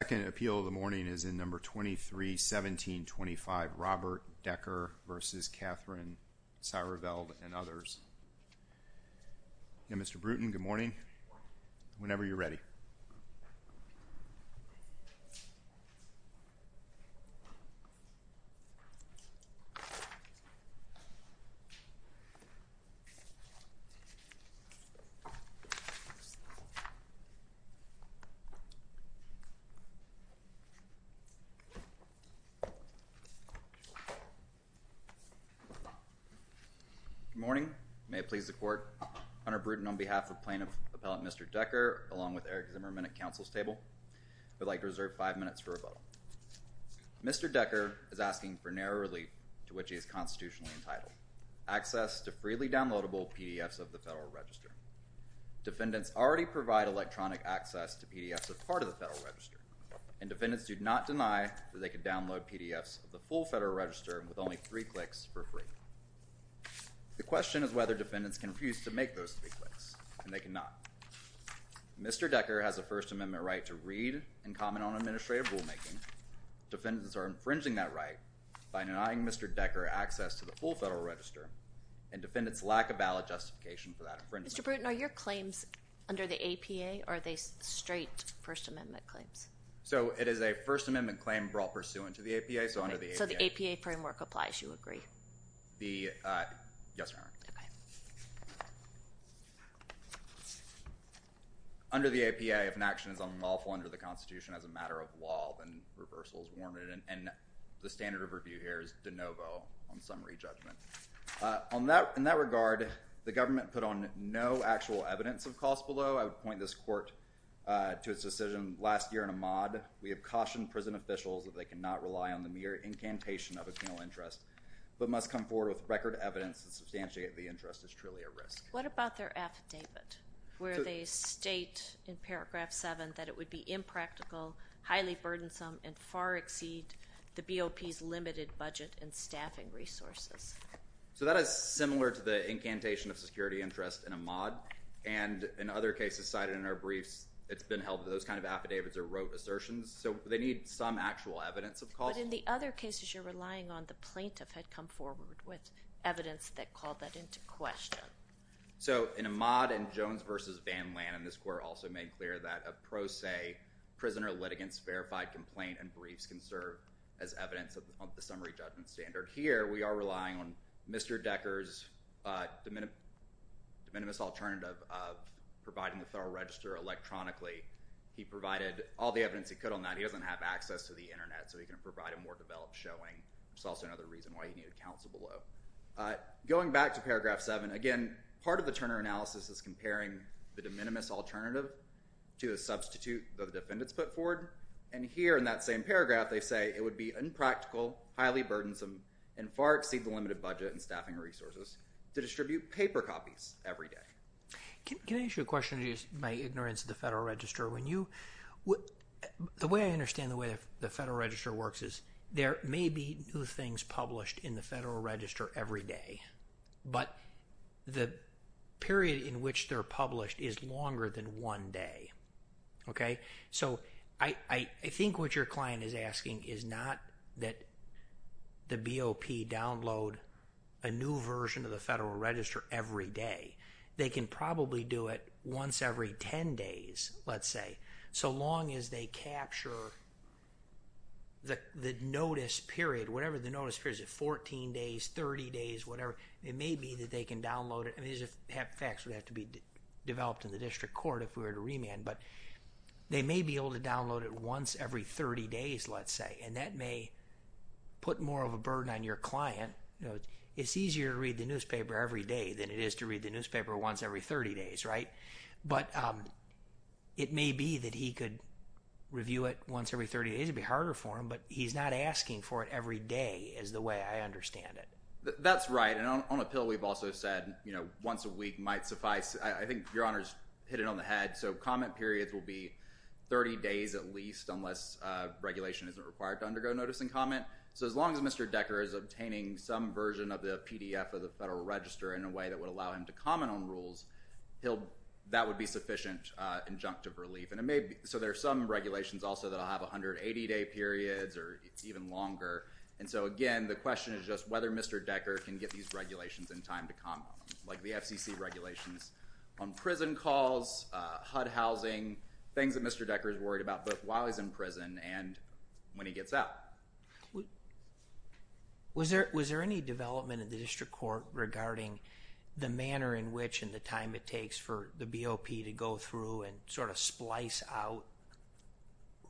The second appeal of the morning is in No. 23-1725, Robert Decker v. Katherine Sireveld and others. Yeah, Mr. Bruton, good morning, whenever you're ready. Good morning, may it please the Court, Hunter Bruton, on behalf of Plaintiff Appellant Mr. Decker, along with Eric Zimmerman at Council's table, would like to reserve five minutes for rebuttal. Mr. Decker is asking for narrow relief to which he is constitutionally entitled, access to freely downloadable PDFs of the Federal Register. Defendants already provide electronic access to PDFs as part of the Federal Register, and defendants do not deny that they could download PDFs of the full Federal Register with only three clicks for free. The question is whether defendants can refuse to make those three clicks, and they cannot. Mr. Decker has a First Amendment right to read and comment on administrative rulemaking. Defendants are infringing that right by denying Mr. Decker access to the full Federal Register, and defendants lack a ballot justification for that infringement. Mr. Bruton, are your claims under the APA, or are they straight First Amendment claims? So, it is a First Amendment claim brought pursuant to the APA, so under the APA. Okay, so the APA framework applies, you agree? Yes, Your Honor. Under the APA, if an action is unlawful under the Constitution as a matter of law, then reversal is warranted, and the standard of review here is de novo on summary judgment. In that regard, the government put on no actual evidence of cost below. I would point this court to its decision last year in Ahmaud. We have cautioned prison officials that they cannot rely on the mere incantation of a penal interest, but must come forward with record evidence that substantiating the interest is truly a risk. What about their affidavit, where they state in paragraph 7 that it would be impractical, highly burdensome, and far exceed the BOP's limited budget and staffing resources? So, that is similar to the incantation of security interest in Ahmaud, and in other cases cited in our briefs, it's been held that those kind of affidavits are rote assertions, so they need some actual evidence of cost. But in the other cases you're relying on, the plaintiff had come forward with evidence that called that into question. So, in Ahmaud and Jones v. Van Lannan, this court also made clear that a pro se prisoner litigants verified complaint and briefs can serve as evidence of the summary judgment standard. Here, we are relying on Mr. Decker's de minimis alternative of providing the federal register electronically. He provided all the evidence he could on that. He doesn't have access to the internet, so he can provide a more developed showing. It's also another reason why he needed counsel below. Going back to paragraph 7, again, part of the Turner analysis is comparing the de minimis alternative to a substitute that the defendants put forward, and here in that same paragraph they say it would be impractical, highly burdensome, and far exceed the limited budget and staffing resources to distribute paper copies every day. Can I ask you a question in my ignorance of the federal register? The way I understand the way the federal register works is there may be new things published in the federal register every day, but the period in which they're published is longer than one day. So, I think what your client is asking is not that the BOP download a new version of They can probably do it once every 10 days, let's say, so long as they capture the notice period, whatever the notice period is, 14 days, 30 days, whatever. It may be that they can download it. These are facts that would have to be developed in the district court if we were to remand, but they may be able to download it once every 30 days, let's say, and that may put more of a burden on your client. It's easier to read the newspaper every day than it is to read the newspaper once every 30 days, right? But it may be that he could review it once every 30 days. It would be harder for him, but he's not asking for it every day is the way I understand it. That's right, and on appeal, we've also said once a week might suffice. I think your Honor's hit it on the head. So, comment periods will be 30 days at least unless regulation isn't required to undergo notice and comment. So, as long as Mr. Decker is obtaining some version of the PDF of the Federal Register in a way that would allow him to comment on rules, that would be sufficient injunctive relief. So, there are some regulations also that will have 180-day periods or even longer. And so, again, the question is just whether Mr. Decker can get these regulations in time to comment on them, like the FCC regulations on prison calls, HUD housing, things that Mr. Decker is worried about both while he's in prison and when he gets out. Was there any development in the District Court regarding the manner in which and the time it takes for the BOP to go through and sort of splice out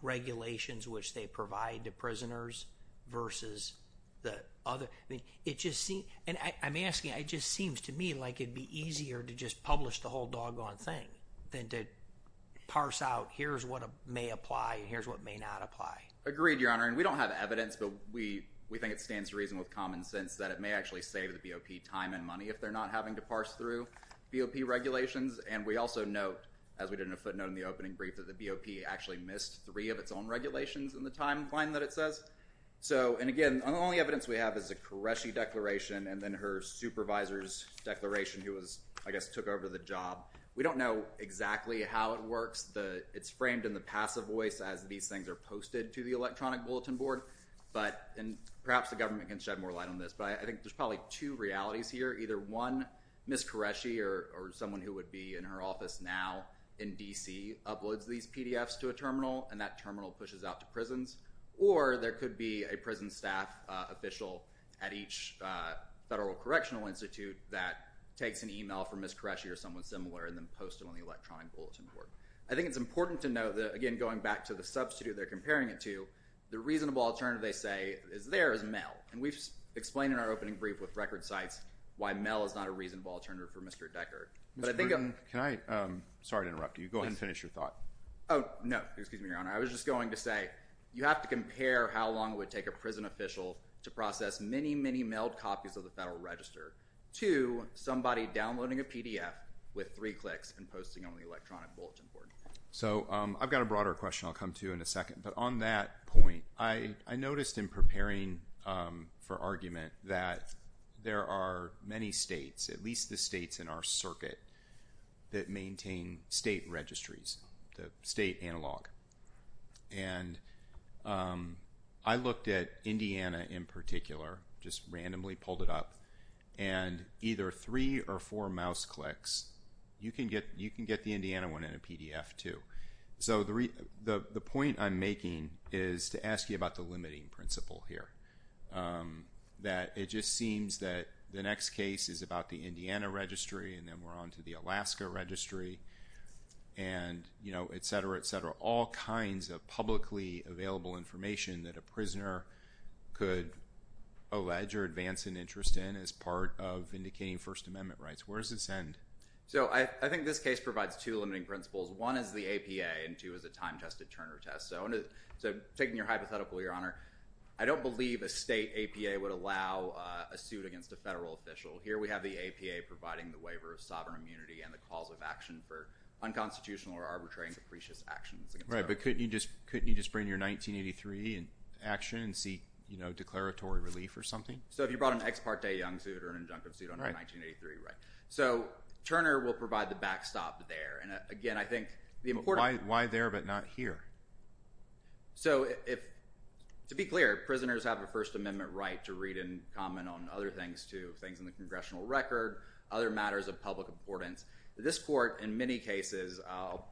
regulations which they provide to prisoners versus the other? I mean, it just seems, and I'm asking, it just seems to me like it'd be easier to just publish the whole doggone thing than to parse out here's what may apply and here's what may not apply. Agreed, Your Honor. And we don't have evidence, but we think it stands to reason with common sense that it may actually save the BOP time and money if they're not having to parse through BOP regulations. And we also note, as we did in a footnote in the opening brief, that the BOP actually missed three of its own regulations in the timeline that it says. So, and again, the only evidence we have is a Qureshi declaration and then her supervisor's declaration who was, I guess, took over the job. We don't know exactly how it works. It's framed in the passive voice as these things are posted to the electronic bulletin board. But, and perhaps the government can shed more light on this, but I think there's probably two realities here. Either one, Ms. Qureshi or someone who would be in her office now in D.C. uploads these PDFs to a terminal and that terminal pushes out to prisons, or there could be a prison staff official at each federal correctional institute that takes an email from Ms. Qureshi or someone similar and then posts it on the electronic bulletin board. I think it's important to note that, again, going back to the substitute they're comparing it to, the reasonable alternative, they say, is there is mail. And we've explained in our opening brief with record sites why mail is not a reasonable alternative for Mr. Deckard. But I think I'm… Mr. Brewer, can I… Sorry to interrupt you. Go ahead and finish your thought. Oh, no. Excuse me, Your Honor. I was just going to say you have to compare how long it would take a prison official to process many, many mailed copies of the Federal Register to somebody downloading a PDF with three clicks and posting on the electronic bulletin board. So, I've got a broader question I'll come to in a second. But on that point, I noticed in preparing for argument that there are many states, at least the states in our circuit, that maintain state registries, the state analog. And I looked at Indiana in particular, just randomly pulled it up, and either three or four mouse clicks, you can get the Indiana one in a PDF, too. So, the point I'm making is to ask you about the limiting principle here, that it just seems that the next case is about the Indiana registry, and then we're on to the Alaska registry, and, you know, et cetera, et cetera, all kinds of publicly available information that a prisoner could allege or advance an interest in as part of indicating First Amendment rights. Where does this end? So, I think this case provides two limiting principles. One is the APA, and two is a time-tested Turner test. So, taking your hypothetical, Your Honor, I don't believe a state APA would allow a suit against a federal official. Here we have the APA providing the waiver of sovereign immunity and the cause of action for unconstitutional or arbitrary and capricious actions. Right, but couldn't you just bring your 1983 action and see, you know, declaratory relief or something? So, if you brought an ex parte young suit or an injunctive suit under 1983, right. So, Turner will provide the backstop there, and again, I think the important— Why there but not here? So, to be clear, prisoners have a First Amendment right to read and comment on other things, too, things in the congressional record, other matters of public importance. This Court, in many cases, I'll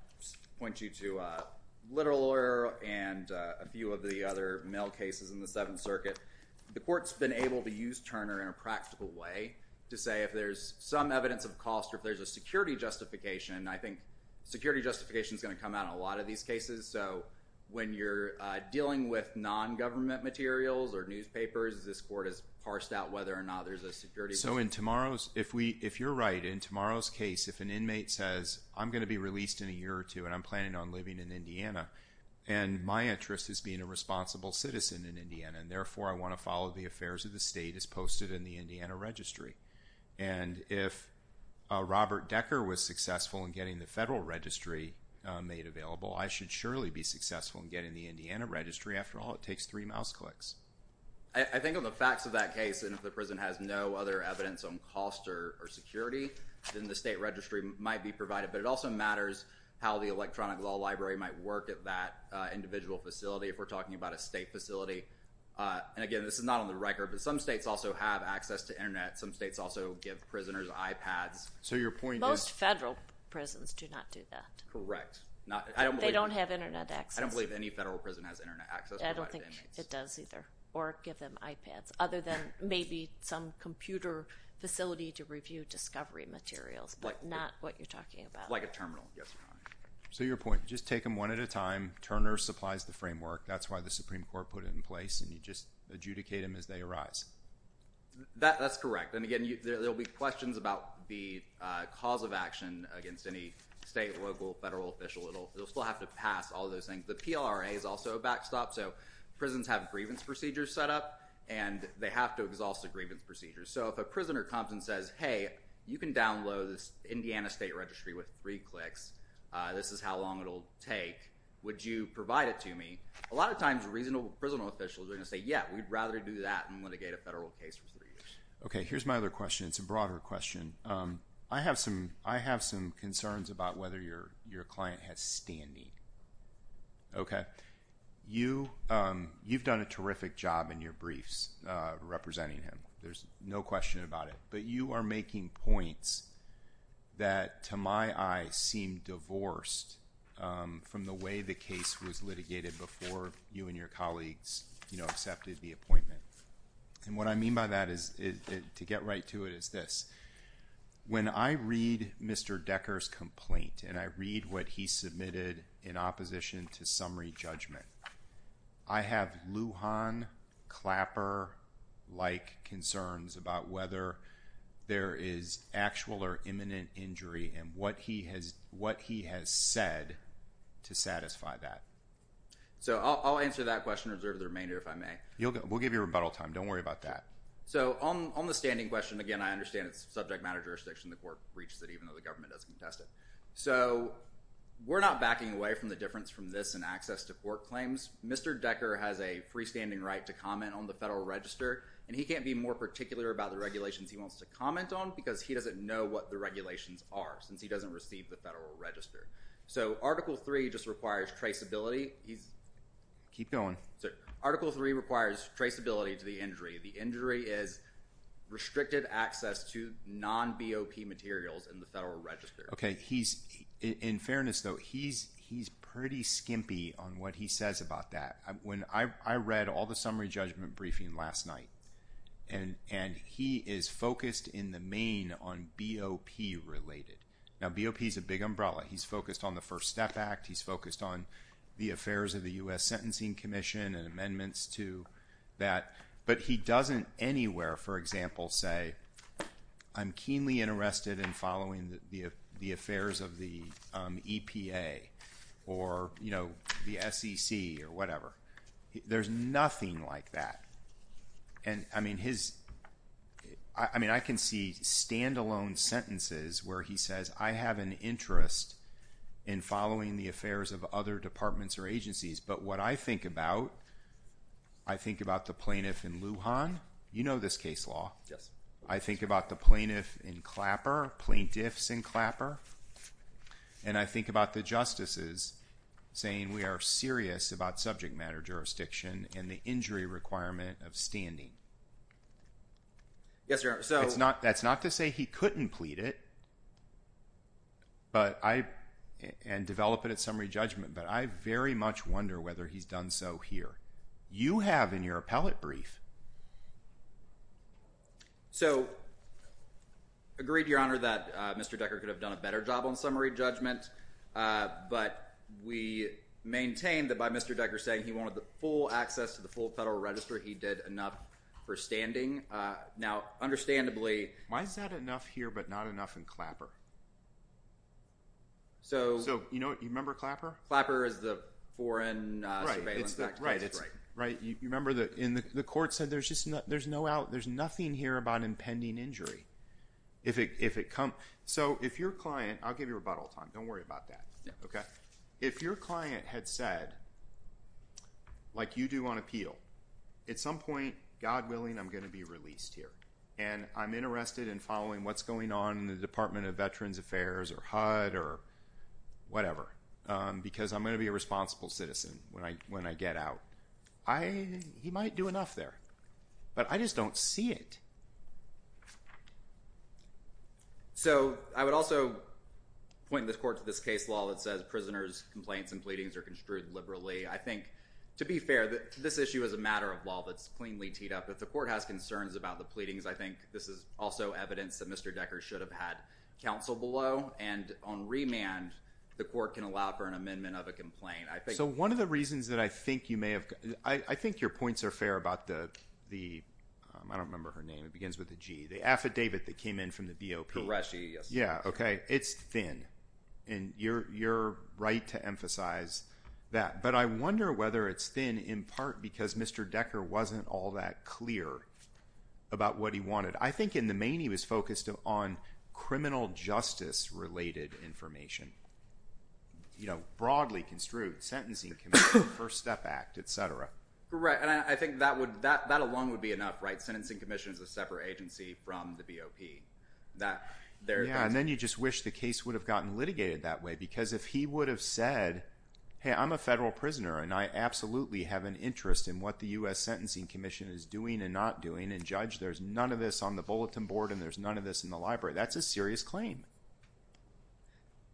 point you to a literal lawyer and a few of the other criminal cases in the Seventh Circuit, the Court's been able to use Turner in a practical way to say if there's some evidence of cost or if there's a security justification, I think security justification is going to come out in a lot of these cases. So, when you're dealing with non-government materials or newspapers, this Court has parsed out whether or not there's a security justification. So, in tomorrow's—if you're right, in tomorrow's case, if an inmate says, I'm going to be released in a year or two, and I'm planning on living in Indiana, and my interest is being a responsible citizen in Indiana, and therefore I want to follow the affairs of the state as posted in the Indiana Registry, and if Robert Decker was successful in getting the federal registry made available, I should surely be successful in getting the Indiana Registry. After all, it takes three mouse clicks. I think on the facts of that case, and if the prison has no other evidence on cost or security, then the state registry might be provided, but it also matters how the electronic law library might work at that individual facility, if we're talking about a state facility. And again, this is not on the record, but some states also have access to internet. Some states also give prisoners iPads. Most federal prisons do not do that. Correct. They don't have internet access. I don't believe any federal prison has internet access. I don't think it does either, or give them iPads, other than maybe some computer facility to review discovery materials, but not what you're talking about. Like a terminal. Yes, Your Honor. So your point, just take them one at a time. Turner supplies the framework. That's why the Supreme Court put it in place, and you just adjudicate them as they arise. That's correct. And again, there'll be questions about the cause of action against any state, local, federal official. It'll still have to pass all those things. The PLRA is also a backstop, so prisons have grievance procedures set up, and they have to exhaust the grievance procedures. So if a prisoner comes and says, hey, you can download this Indiana State Registry with three clicks. This is how long it'll take. Would you provide it to me? A lot of times, reasonable prison officials are going to say, yeah, we'd rather do that than litigate a federal case for three years. Okay. Here's my other question. It's a broader question. I have some concerns about whether your client has standing. Okay? You've done a terrific job in your briefs representing him. There's no question about it. But you are making points that, to my eye, seem divorced from the way the case was litigated before you and your colleagues, you know, accepted the appointment. And what I mean by that is, to get right to it, is this. When I read Mr. Decker's complaint, and I read what he submitted in opposition to summary there is actual or imminent injury. And what he has said to satisfy that. So I'll answer that question and reserve the remainder if I may. We'll give you rebuttal time. Don't worry about that. So on the standing question, again, I understand it's subject matter jurisdiction. The court breaches it even though the government doesn't contest it. So we're not backing away from the difference from this in access to court claims. Mr. Decker has a freestanding right to comment on the federal register. And he can't be more particular about the regulations he wants to comment on because he doesn't know what the regulations are since he doesn't receive the federal register. So Article 3 just requires traceability. Keep going. Article 3 requires traceability to the injury. The injury is restricted access to non-BOP materials in the federal register. Okay. In fairness, though, he's pretty skimpy on what he says about that. I read all the summary judgment briefing last night. And he is focused in the main on BOP-related. Now, BOP is a big umbrella. He's focused on the First Step Act. He's focused on the affairs of the U.S. Sentencing Commission and amendments to that. But he doesn't anywhere, for example, say, I'm keenly interested in following the affairs of the EPA or, you know, the SEC or whatever. There's nothing like that. And, I mean, I can see standalone sentences where he says, I have an interest in following the affairs of other departments or agencies. But what I think about, I think about the plaintiff in Lujan. You know this case law. Yes. I think about the plaintiff in Clapper, plaintiffs in Clapper, and I think about the justices saying we are serious about subject matter jurisdiction and the injury requirement of standing. Yes, sir. That's not to say he couldn't plead it and develop it at summary judgment, but I very much wonder whether he's done so here. You have in your appellate brief. So, agreed, Your Honor, that Mr. Decker could have done a better job on summary judgment, but we maintain that by Mr. Decker saying he wanted the full access to the full federal register, he did enough for standing. Now, understandably. Why is that enough here but not enough in Clapper? So. So, you know, you remember Clapper? Clapper is the Foreign Surveillance Act. Right. You remember the court said there's nothing here about impending injury. So, if your client, I'll give you rebuttal time. Don't worry about that. Okay. If your client had said, like you do on appeal, at some point, God willing, I'm going to be released here and I'm interested in following what's going on in the Department of Veterans Affairs or HUD or whatever because I'm going to be a responsible citizen when I get out. He might do enough there, but I just don't see it. So, I would also point this court to this case law that says prisoners' complaints and pleadings are construed liberally. I think, to be fair, this issue is a matter of law that's cleanly teed up. If the court has concerns about the pleadings, I think this is also evidence that Mr. Decker should have had counsel below and on remand, the court can allow for an amendment of a complaint. So, one of the reasons that I think you may have… I think your points are fair about the… I don't remember her name. It begins with a G. The affidavit that came in from the BOP. Koreshi, yes. Yeah, okay. It's thin, and you're right to emphasize that. But I wonder whether it's thin in part because Mr. Decker wasn't all that clear about what he wanted. I think in the main, he was focused on criminal justice-related information, broadly construed, sentencing commission, first step act, et cetera. Right, and I think that alone would be enough, right? Sentencing commission is a separate agency from the BOP. Yeah, and then you just wish the case would have gotten litigated that way because if he would have said, hey, I'm a federal prisoner, and I absolutely have an interest in what the U.S. Sentencing Commission is doing and not doing, there's none of this on the bulletin board, and there's none of this in the library. That's a serious claim.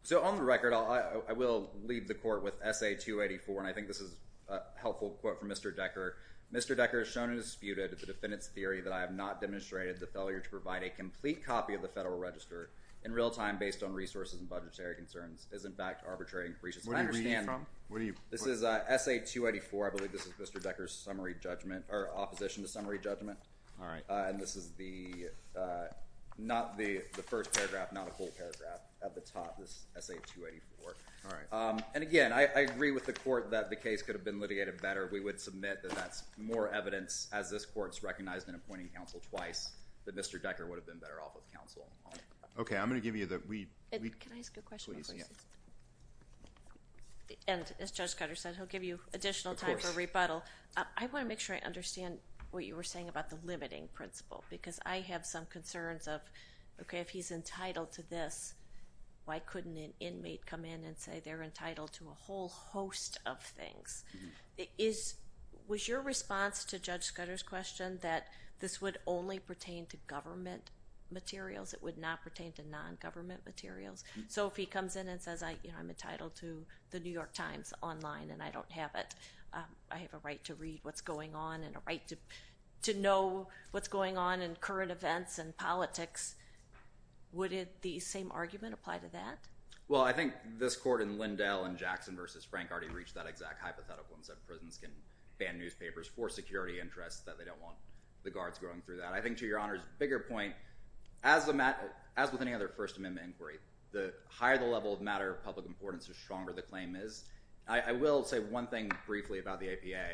So on the record, I will leave the court with Essay 284, and I think this is a helpful quote from Mr. Decker. Mr. Decker has shown and disputed the defendant's theory that I have not demonstrated the failure to provide a complete copy of the Federal Register in real time based on resources and budgetary concerns is, in fact, arbitrary and capricious. What are you reading from? This is Essay 284. I believe this is Mr. Decker's summary judgment, or opposition to summary judgment. All right. And this is not the first paragraph, not a full paragraph. At the top is Essay 284. All right. And again, I agree with the court that the case could have been litigated better. We would submit that that's more evidence, as this court's recognized in appointing counsel twice, that Mr. Decker would have been better off with counsel. Can I ask a question? Please, yeah. And as Judge Scudder said, he'll give you additional time for rebuttal. Of course. I want to make sure I understand what you were saying about the limiting principle, because I have some concerns of, okay, if he's entitled to this, why couldn't an inmate come in and say they're entitled to a whole host of things? Was your response to Judge Scudder's question that this would only pertain to government materials? It would not pertain to non-government materials? So if he comes in and says I'm entitled to the New York Times online and I don't have it, I have a right to read what's going on and a right to know what's going on in current events and politics, would the same argument apply to that? Well, I think this court in Lindell and Jackson v. Frank already reached that exact hypothetical and said prisons can ban newspapers for security interests, that they don't want the guards going through that. I think to Your Honor's bigger point, as with any other First Amendment inquiry, the higher the level of matter of public importance, the stronger the claim is. I will say one thing briefly about the APA.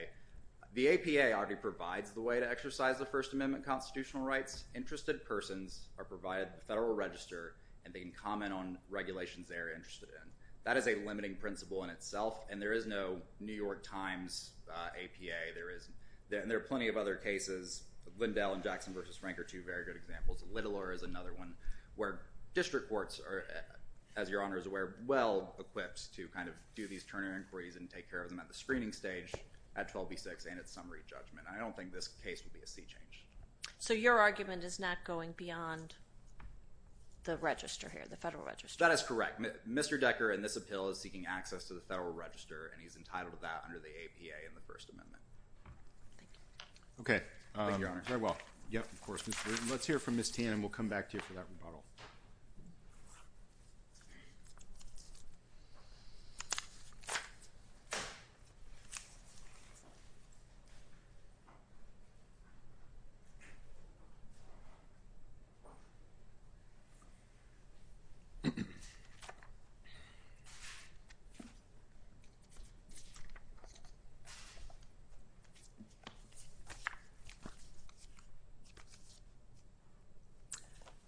The APA already provides the way to exercise the First Amendment constitutional rights. Interested persons are provided with a federal register, and they can comment on regulations they are interested in. That is a limiting principle in itself, and there is no New York Times APA. There are plenty of other cases, Lindell and Jackson v. Frank are two very good examples. Littler is another one where district courts are, as Your Honor is aware, well-equipped to kind of do these Turner inquiries and take care of them at the screening stage at 12B6 and at summary judgment. I don't think this case would be a sea change. So your argument is not going beyond the register here, the federal register? That is correct. Mr. Decker, in this appeal, is seeking access to the federal register, and he's entitled to that under the APA and the First Amendment. Thank you. Thank you, Your Honor. Very well. Yep, of course. Let's hear from Ms. Tan, and we'll come back to you for that rebuttal.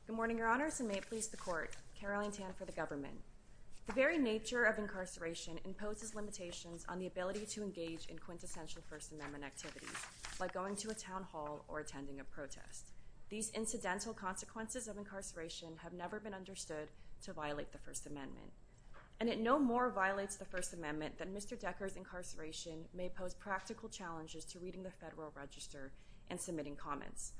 Good morning, Your Honors, and may it please the Court. Caroline Tan for the government. The very nature of incarceration imposes limitations on the ability to engage in quintessential First Amendment activities, like going to a town hall or attending a protest. These incidental consequences of incarceration have never been understood to violate the First Amendment, and it no more violates the First Amendment that Mr. Decker's incarceration may pose practical challenges to reading the federal register and submitting comments.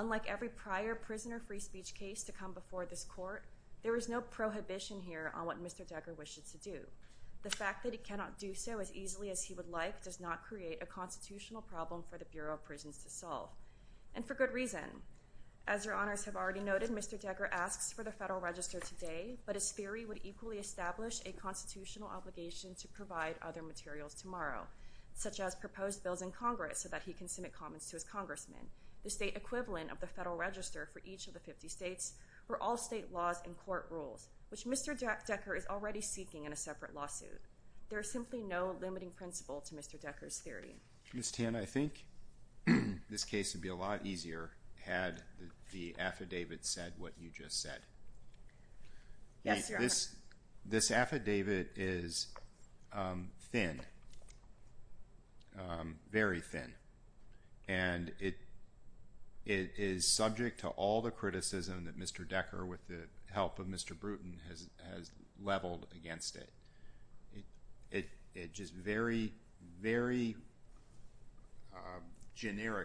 Unlike every prior prisoner free speech case to come before this Court, there is no prohibition here on what Mr. Decker wishes to do. The fact that he cannot do so as easily as he would like does not create a constitutional problem for the Bureau of Prisons to solve, and for good reason. As Your Honors have already noted, Mr. Decker asks for the federal register today, but his theory would equally establish a constitutional obligation to provide other materials tomorrow, such as proposed bills in Congress so that he can submit comments to his congressman. The state equivalent of the federal register for each of the 50 states were all state laws and court rules, which Mr. Decker is already seeking in a separate lawsuit. There is simply no limiting principle to Mr. Decker's theory. Mr. Tan, I think this case would be a lot easier had the affidavit said what you just said. Yes, Your Honors. This affidavit is thin, very thin, and it is subject to all the criticism that Mr. Decker, with the help of Mr. Bruton, has leveled against it. It just very, very generically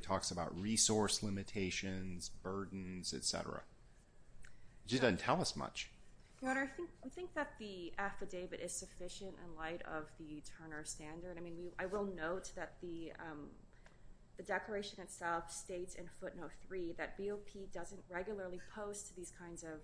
talks about resource limitations, burdens, etc. It just doesn't tell us much. Your Honor, I think that the affidavit is sufficient in light of the Turner Standard. I will note that the declaration itself states in footnote 3 that BOP doesn't regularly post these kinds of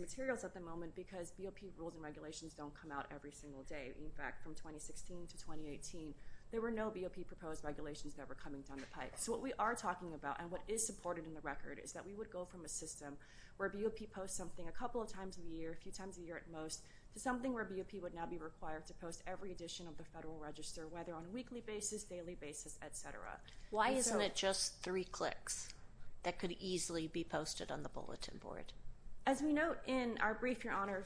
materials at the moment because BOP rules and regulations don't come out every single day. In fact, from 2016 to 2018, there were no BOP proposed regulations that were coming down the pipe. So what we are talking about and what is supported in the record is that we would go from a system where BOP posts something a couple of times a year, a few times a year at most, to something where BOP would now be required to post every edition of the Federal Register, whether on a weekly basis, daily basis, etc. Why isn't it just three clicks that could easily be posted on the bulletin board? As we note in our brief, Your Honor,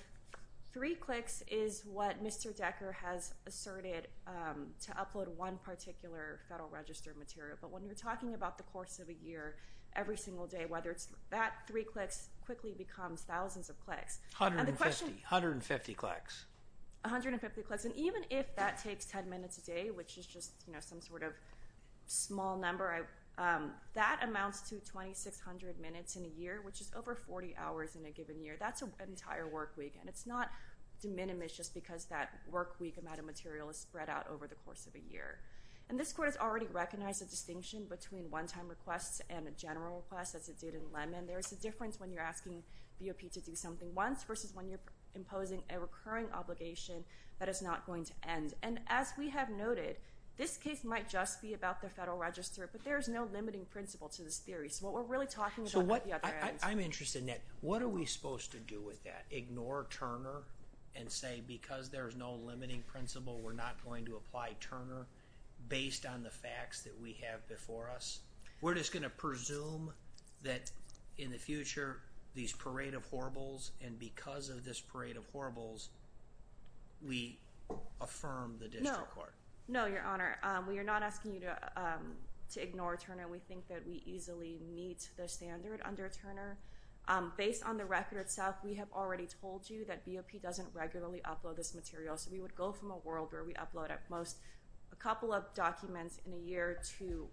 three clicks is what Mr. Decker has asserted to upload one particular Federal Register material. But when we're talking about the course of a year, every single day, whether it's that three clicks quickly becomes thousands of clicks. 150 clicks. 150 clicks. And even if that takes 10 minutes a day, which is just some sort of small number, that amounts to 2,600 minutes in a year, which is over 40 hours in a given year. That's an entire work week, and it's not diminished just because that work week amount of material is spread out over the course of a year. And this Court has already recognized the distinction between one-time requests and a general request, as it did in Lemon. There is a difference when you're asking BOP to do something once versus when you're imposing a recurring obligation that is not going to end. And as we have noted, this case might just be about the Federal Register, but there is no limiting principle to this theory. So what we're really talking about is the other end. I'm interested in that. What are we supposed to do with that? Ignore Turner and say because there's no limiting principle, we're not going to apply Turner based on the facts that we have before us? We're just going to presume that in the future, these parade of horribles, and because of this parade of horribles, we affirm the District Court? No. No, Your Honor. We are not asking you to ignore Turner. We think that we easily meet the standard under Turner. Based on the record itself, we have already told you that BOP doesn't regularly upload this material, so we would go from a world where we upload at most a couple of documents in a year to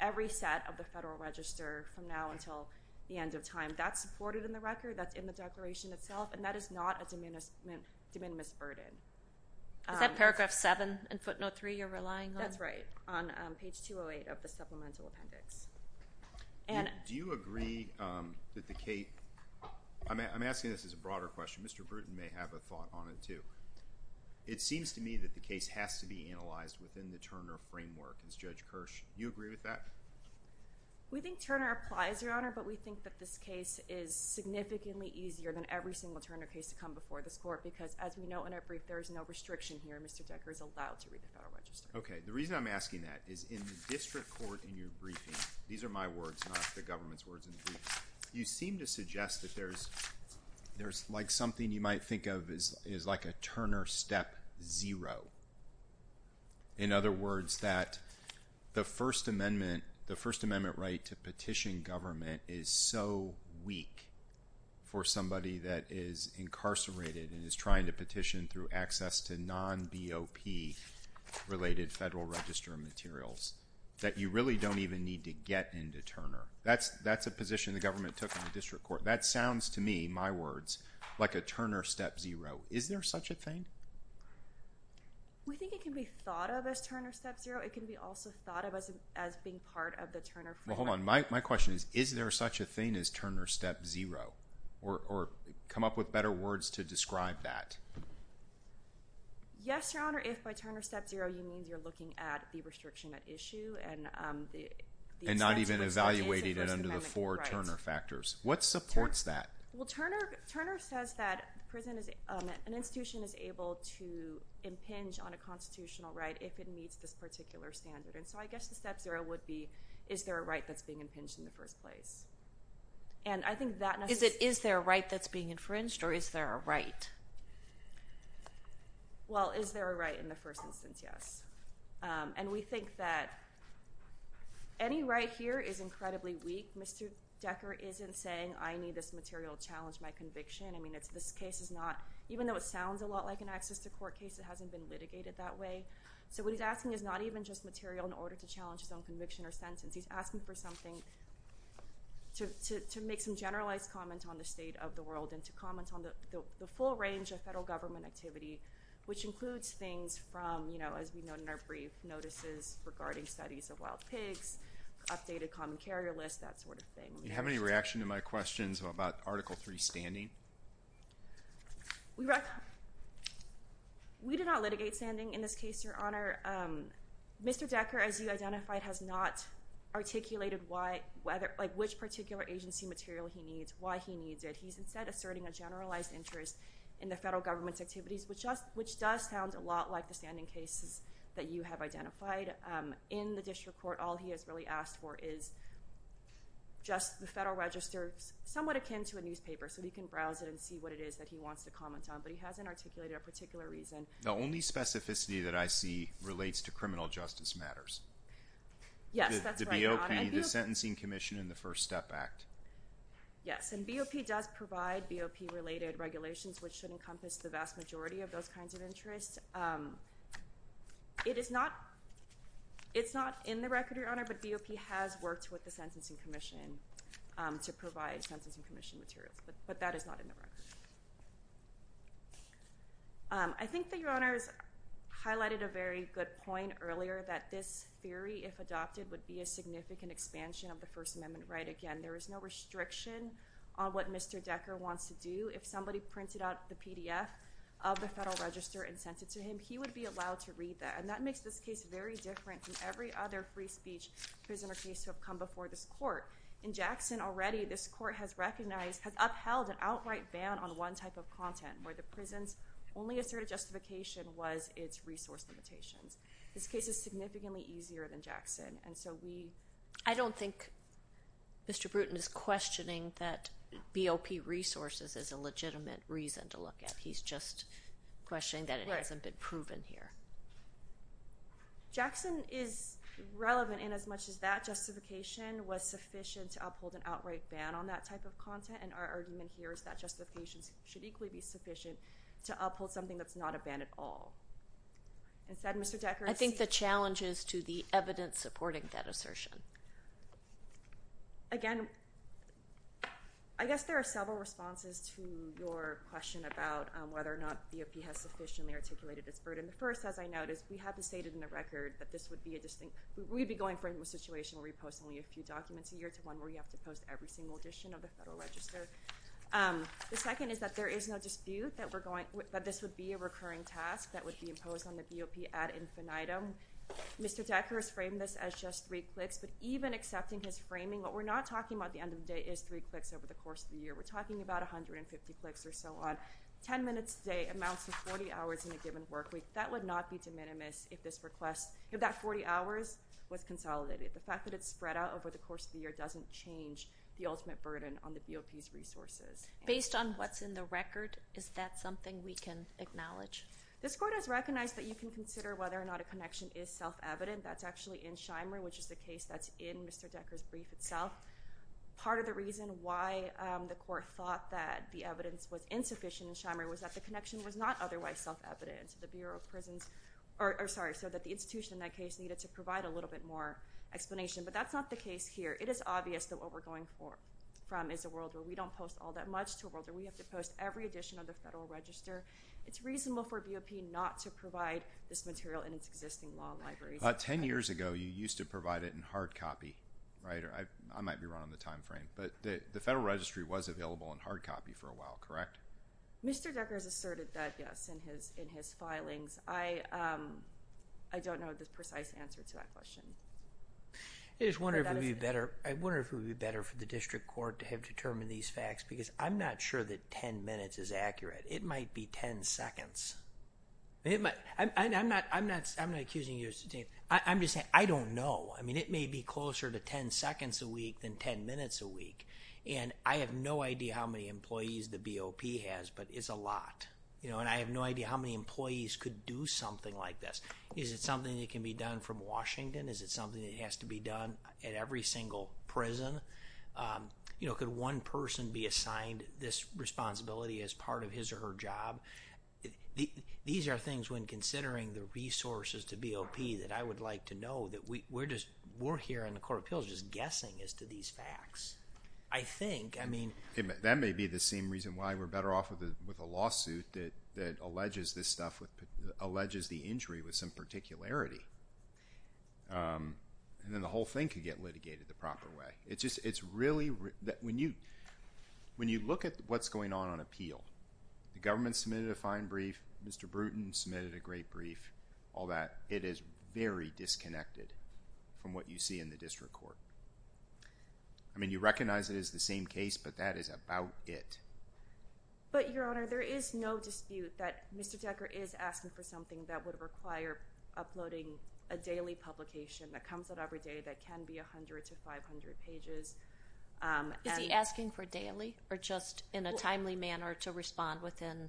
every set of the Federal Register from now until the end of time. That's supported in the record. That's in the declaration itself, and that is not a de minimis burden. Is that paragraph 7 in footnote 3 you're relying on? That's right, on page 208 of the supplemental appendix. Do you agree that the case—I'm asking this as a broader question. Mr. Bruton may have a thought on it, too. It seems to me that the case has to be analyzed within the Turner framework. Does Judge Kirsch, do you agree with that? We think Turner applies, Your Honor, but we think that this case is significantly easier than every single Turner case to come before this Court because, as we know in our brief, there is no restriction here. Mr. Decker is allowed to read the Federal Register. Okay, the reason I'm asking that is in the district court in your briefing—these are my words, not the government's words in the briefing—you seem to suggest that there's like something you might think of as like a Turner step zero. In other words, that the First Amendment right to petition government is so weak for somebody that is incarcerated and is trying to petition through access to non-BOP-related Federal Register materials that you really don't even need to get into Turner. That's a position the government took in the district court. That sounds to me, my words, like a Turner step zero. Is there such a thing? We think it can be thought of as Turner step zero. It can be also thought of as being part of the Turner framework. Well, hold on. My question is, is there such a thing as Turner step zero, or come up with better words to describe that? Yes, Your Honor, if by Turner step zero you mean you're looking at the restriction at issue and the— And not even evaluating it under the four Turner factors. What supports that? Well, Turner says that an institution is able to impinge on a constitutional right if it meets this particular standard. And so I guess the step zero would be, is there a right that's being impinged in the first place? And I think that— Is it, is there a right that's being infringed, or is there a right? Well, is there a right in the first instance? Yes. And we think that any right here is incredibly weak. Mr. Decker isn't saying, I need this material to challenge my conviction. I mean, this case is not—even though it sounds a lot like an access to court case, it hasn't been litigated that way. So what he's asking is not even just material in order to challenge his own conviction or sentence. He's asking for something to make some generalized comment on the state of the world and to comment on the full range of federal government activity, which includes things from, as we know in our brief, notices regarding studies of wild pigs, updated common carrier list, that sort of thing. Do you have any reaction to my questions about Article III standing? We did not litigate standing in this case, Your Honor. Mr. Decker, as you identified, has not articulated which particular agency material he needs, why he needs it. He's instead asserting a generalized interest in the federal government's activities, which does sound a lot like the standing cases that you have identified. In the district court, all he has really asked for is just the Federal Register, somewhat akin to a newspaper, so he can browse it and see what it is that he wants to comment on, but he hasn't articulated a particular reason. The only specificity that I see relates to criminal justice matters. Yes, that's right, Your Honor. The BOP, the Sentencing Commission, and the First Step Act. Yes, and BOP does provide BOP-related regulations, which should encompass the vast majority of those kinds of interests. It is not in the record, Your Honor, but BOP has worked with the Sentencing Commission to provide Sentencing Commission materials, but that is not in the record. I think that Your Honor has highlighted a very good point earlier, that this theory, if adopted, would be a significant expansion of the First Amendment right again. There is no restriction on what Mr. Decker wants to do. If somebody printed out the PDF of the Federal Register and sent it to him, he would be allowed to read that, and that makes this case very different from every other free speech prisoner case to have come before this court. In Jackson, already, this court has recognized, has upheld an outright ban on one type of content, where the prison's only asserted justification was its resource limitations. This case is significantly easier than Jackson, and so we— I think Mr. Bruton is questioning that BOP resources is a legitimate reason to look at. He's just questioning that it hasn't been proven here. Right. Jackson is relevant inasmuch as that justification was sufficient to uphold an outright ban on that type of content, and our argument here is that justification should equally be sufficient to uphold something that's not a ban at all. Instead, Mr. Decker— I think the challenge is to the evidence supporting that assertion. Again, I guess there are several responses to your question about whether or not BOP has sufficiently articulated its burden. The first, as I noticed, we have stated in the record that this would be a distinct— we'd be going from a situation where we post only a few documents a year to one where you have to post every single edition of the Federal Register. The second is that there is no dispute that we're going— that this would be a recurring task that would be imposed on the BOP ad infinitum. Again, Mr. Decker has framed this as just three clicks, but even accepting his framing, what we're not talking about at the end of the day is three clicks over the course of the year. We're talking about 150 clicks or so on. Ten minutes a day amounts to 40 hours in a given work week. That would not be de minimis if this request—if that 40 hours was consolidated. The fact that it's spread out over the course of the year doesn't change the ultimate burden on the BOP's resources. Based on what's in the record, is that something we can acknowledge? This Court has recognized that you can consider whether or not a connection is self-evident. That's actually in Shimer, which is the case that's in Mr. Decker's brief itself. Part of the reason why the Court thought that the evidence was insufficient in Shimer was that the connection was not otherwise self-evident. The Bureau of Prisons—or, sorry, so that the institution in that case needed to provide a little bit more explanation, but that's not the case here. It is obvious that what we're going from is a world where we don't post all that much to a world where we have to post every edition of the Federal Register. It's reasonable for BOP not to provide this material in its existing law libraries. Ten years ago, you used to provide it in hard copy, right? I might be wrong on the time frame, but the Federal Registry was available in hard copy for a while, correct? Mr. Decker has asserted that, yes, in his filings. I don't know the precise answer to that question. I just wonder if it would be better for the District Court to have determined these facts because I'm not sure that 10 minutes is accurate. It might be 10 seconds. I'm not accusing you. I'm just saying I don't know. I mean, it may be closer to 10 seconds a week than 10 minutes a week, and I have no idea how many employees the BOP has, but it's a lot, and I have no idea how many employees could do something like this. Is it something that can be done from Washington? Is it something that has to be done at every single prison? Could one person be assigned this responsibility as part of his or her job? These are things when considering the resources to BOP that I would like to know. We're here in the Court of Appeals just guessing as to these facts. I think, I mean— That may be the same reason why we're better off with a lawsuit that alleges this stuff, alleges the injury with some particularity, and then the whole thing could get litigated the proper way. It's really—when you look at what's going on on appeal, the government submitted a fine brief, Mr. Bruton submitted a great brief, all that. It is very disconnected from what you see in the district court. I mean, you recognize it as the same case, but that is about it. But, Your Honor, there is no dispute that Mr. Decker is asking for something that would require uploading a daily publication that comes out every day that can be 100 to 500 pages. Is he asking for daily or just in a timely manner to respond within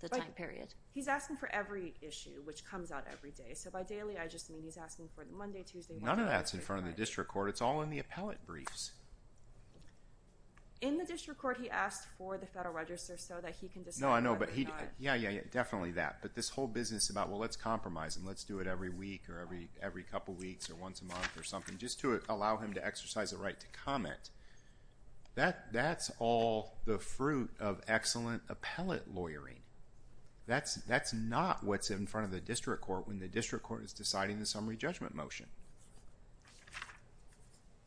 the time period? He's asking for every issue which comes out every day. So, by daily, I just mean he's asking for Monday, Tuesday, Wednesday— None of that's in front of the district court. It's all in the appellate briefs. In the district court, he asked for the Federal Register so that he can decide whether or not— No, I know, but he—yeah, yeah, yeah, definitely that. But this whole business about, well, let's compromise and let's do it every week or every couple weeks or once a month or something just to allow him to exercise the right to comment, that's all the fruit of excellent appellate lawyering. That's not what's in front of the district court when the district court is deciding the summary judgment motion.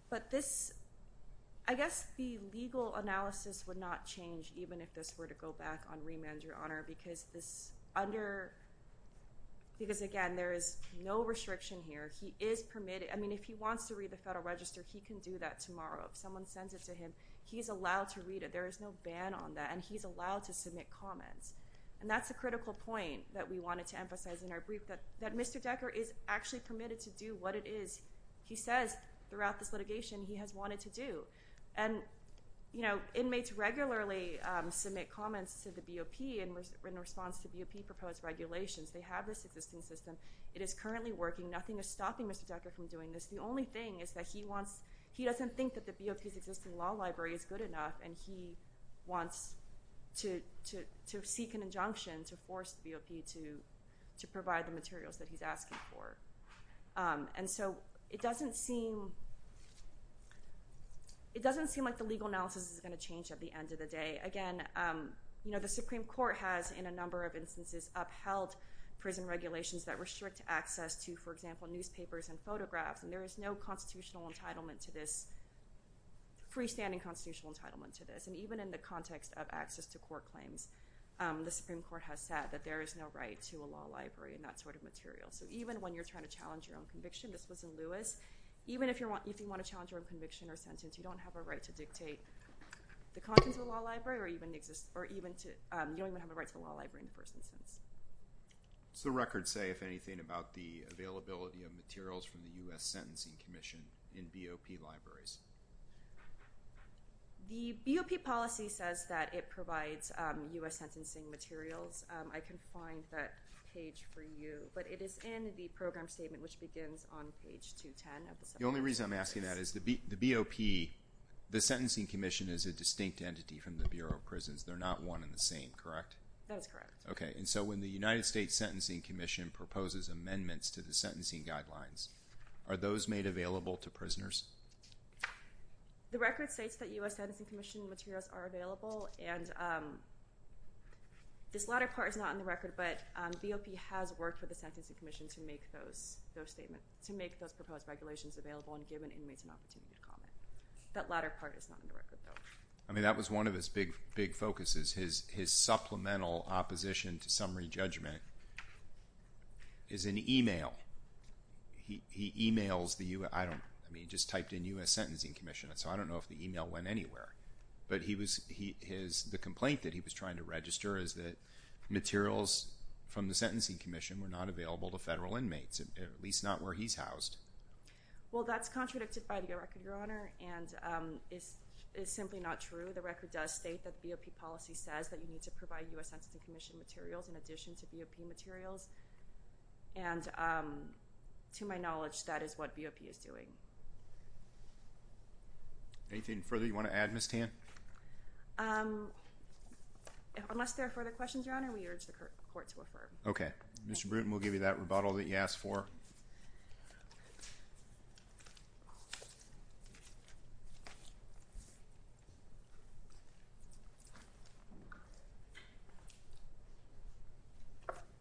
But this—I guess the legal analysis would not change because, again, there is no restriction here. He is permitted—I mean, if he wants to read the Federal Register, he can do that tomorrow. If someone sends it to him, he's allowed to read it. There is no ban on that, and he's allowed to submit comments. And that's a critical point that we wanted to emphasize in our brief, that Mr. Decker is actually permitted to do what it is he says throughout this litigation he has wanted to do. And inmates regularly submit comments to the BOP in response to BOP-proposed regulations. They have this existing system. It is currently working. Nothing is stopping Mr. Decker from doing this. The only thing is that he wants—he doesn't think that the BOP's existing law library is good enough, and he wants to seek an injunction to force the BOP to provide the materials that he's asking for. And so it doesn't seem like the legal analysis is going to change at the end of the day. Again, the Supreme Court has, in a number of instances, upheld prison regulations that restrict access to, for example, newspapers and photographs, and there is no constitutional entitlement to this— freestanding constitutional entitlement to this. And even in the context of access to court claims, the Supreme Court has said that there is no right to a law library and that sort of material. So even when you're trying to challenge your own conviction—this was in Lewis— even if you want to challenge your own conviction or sentence, you don't have a right to dictate the contents of a law library, or you don't even have a right to a law library in the first instance. What does the record say, if anything, about the availability of materials from the U.S. Sentencing Commission in BOP libraries? The BOP policy says that it provides U.S. sentencing materials. I can find that page for you, but it is in the program statement, which begins on page 210. The only reason I'm asking that is the BOP, the Sentencing Commission, is a distinct entity from the Bureau of Prisons. They're not one and the same, correct? That is correct. Okay, and so when the United States Sentencing Commission proposes amendments to the sentencing guidelines, are those made available to prisoners? The record states that U.S. Sentencing Commission materials are available, and this latter part is not in the record, but BOP has worked with the Sentencing Commission to make those statements, to make those proposed regulations available and given inmates an opportunity to comment. That latter part is not in the record, though. I mean, that was one of his big focuses. His supplemental opposition to summary judgment is an email. He emails the U.S. Sentencing Commission, so I don't know if the email went anywhere, but the complaint that he was trying to register is that materials from the Sentencing Commission were not available to federal inmates, at least not where he's housed. Well, that's contradicted by the record, Your Honor, and is simply not true. The record does state that BOP policy says that you need to provide U.S. Sentencing Commission materials in addition to BOP materials, and to my knowledge, that is what BOP is doing. Anything further you want to add, Ms. Tan? Unless there are further questions, Your Honor, we urge the court to affirm. Okay. Mr. Bruton, we'll give you that rebuttal that you asked for.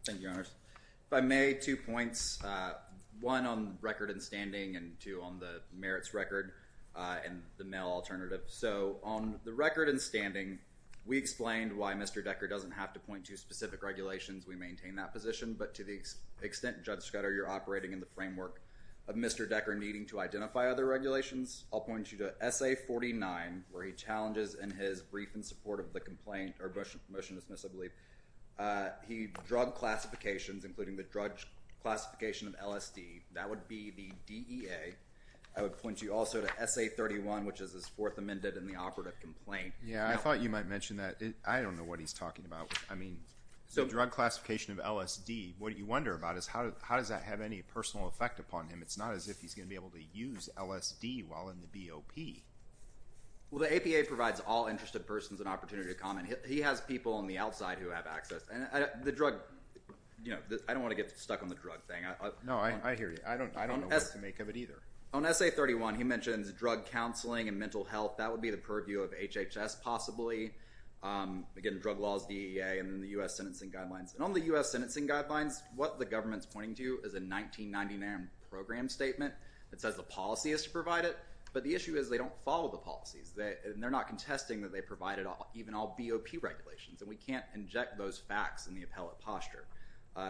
Thank you, Your Honors. If I may, two points. One, on record and standing, and two, on the merits record and the mail alternative. So, on the record and standing, we explained why Mr. Decker doesn't have to point to specific regulations. We maintain that position, but to the extent, Judge Scudder, you're operating in the framework of Mr. Decker needing to identify other regulations, I'll point you to SA 49, where he challenges in his brief in support of the complaint, or motion to dismiss, I believe, drug classifications, including the drug classification of LSD. That would be the DEA. I would point you also to SA 31, which is his fourth amended in the operative complaint. Yeah, I thought you might mention that. I don't know what he's talking about. I mean, the drug classification of LSD, what you wonder about is how does that have any personal effect upon him? It's not as if he's going to be able to use LSD while in the BOP. He has people on the outside who have access. I don't want to get stuck on the drug thing. No, I hear you. I don't know what to make of it either. On SA 31, he mentions drug counseling and mental health. That would be the purview of HHS, possibly. Again, drug laws, DEA, and the U.S. Sentencing Guidelines. On the U.S. Sentencing Guidelines, what the government's pointing to is a 1999 program statement that says the policy is to provide it, but the issue is they don't follow the policies. They're not contesting that they provide it, even all BOP regulations. We can't inject those facts in the appellate posture.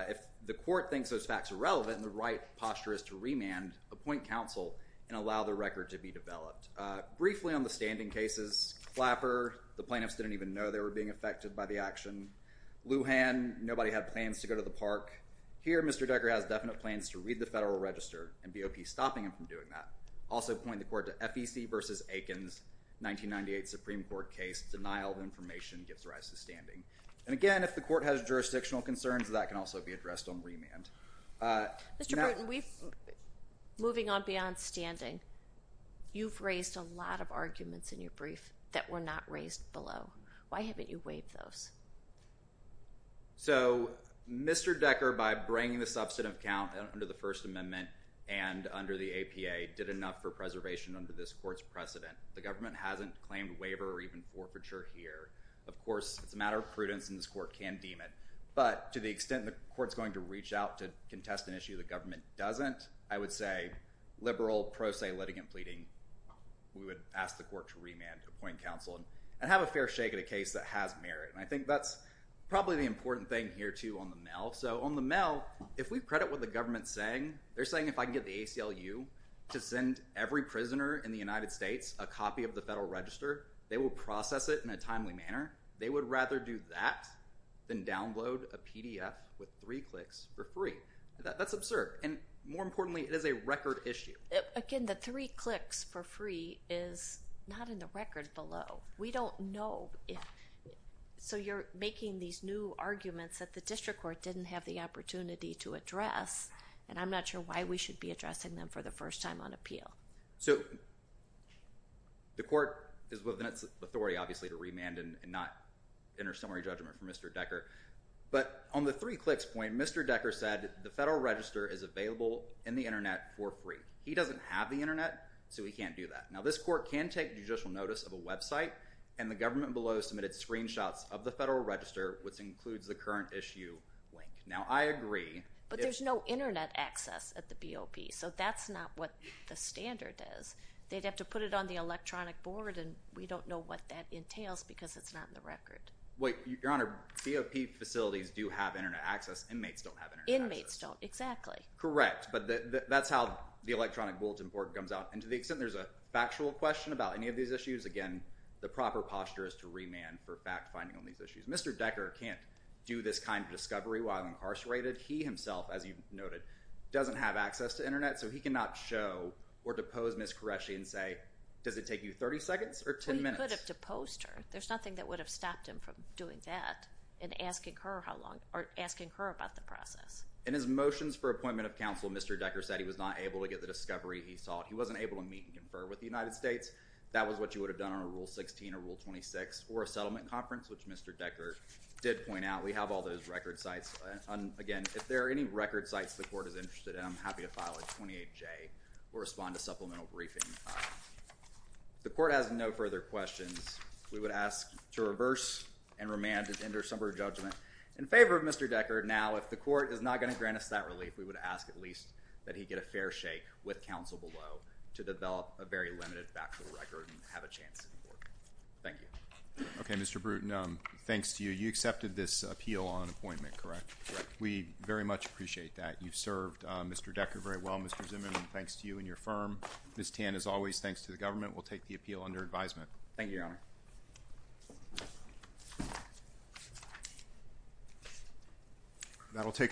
If the court thinks those facts are relevant and the right posture is to remand, appoint counsel and allow the record to be developed. Briefly on the standing cases, Clapper, the plaintiffs didn't even know they were being affected by the action. Lujan, nobody had plans to go to the park. Here, Mr. Decker has definite plans to read the Federal Register and BOP stopping him from doing that. Also point the court to FEC v. Aikens, 1998 Supreme Court case. Denial of information gives rise to standing. Again, if the court has jurisdictional concerns, that can also be addressed on remand. Mr. Burton, moving on beyond standing, you've raised a lot of arguments in your brief that were not raised below. Why haven't you waived those? So Mr. Decker, by bringing the substantive count under the First Amendment and under the APA, did enough for preservation under this court's precedent. The government hasn't claimed waiver or even forfeiture here. Of course, it's a matter of prudence, and this court can deem it. But to the extent the court's going to reach out to contest an issue the government doesn't, I would say liberal pro se litigant pleading. We would ask the court to remand, appoint counsel, and have a fair shake at a case that has merit. And I think that's probably the important thing here, too, on the mail. So on the mail, if we credit what the government's saying, they're saying if I can get the ACLU to send every prisoner in the United States a copy of the Federal Register, they will process it in a timely manner. They would rather do that than download a PDF with three clicks for free. That's absurd. And more importantly, it is a record issue. Again, the three clicks for free is not in the record below. We don't know. So you're making these new arguments that the district court didn't have the opportunity to address, and I'm not sure why we should be addressing them for the first time on appeal. So the court is within its authority, obviously, to remand and not enter summary judgment for Mr. Decker. But on the three clicks point, Mr. Decker said the Federal Register is available in the Internet for free. He doesn't have the Internet, so he can't do that. Now, this court can take judicial notice of a website, and the government below submitted screenshots of the Federal Register, which includes the current issue link. Now, I agree. But there's no Internet access at the BOP, so that's not what the standard is. They'd have to put it on the electronic board, and we don't know what that entails because it's not in the record. Your Honor, BOP facilities do have Internet access. Inmates don't have Internet access. Inmates don't, exactly. Correct. But that's how the electronic bulletin board comes out. And to the extent there's a factual question about any of these issues, again, the proper posture is to remand for fact-finding on these issues. Mr. Decker can't do this kind of discovery while incarcerated. He himself, as you noted, doesn't have access to Internet, so he cannot show or depose Ms. Qureshi and say, does it take you 30 seconds or 10 minutes? Well, he could have deposed her. There's nothing that would have stopped him from doing that and asking her about the process. In his motions for appointment of counsel, Mr. Decker said he was not able to get the discovery he sought. He wasn't able to meet and confer with the United States. That was what you would have done on a Rule 16 or Rule 26 or a settlement conference, which Mr. Decker did point out. We have all those record sites. Again, if there are any record sites the court is interested in, I'm happy to file a 28J or respond to supplemental briefing. The court has no further questions. We would ask to reverse and remand and enter summary judgment in favor of Mr. Decker. Now, if the court is not going to grant us that relief, we would ask at least that he get a fair shake with counsel below to develop a very limited factual record and have a chance to work. Thank you. Okay, Mr. Bruton, thanks to you. You accepted this appeal on appointment, correct? Correct. We very much appreciate that. You've served Mr. Decker very well. Mr. Zimmerman, thanks to you and your firm. Ms. Tan, as always, thanks to the government. We'll take the appeal under advisement. Thank you, Your Honor.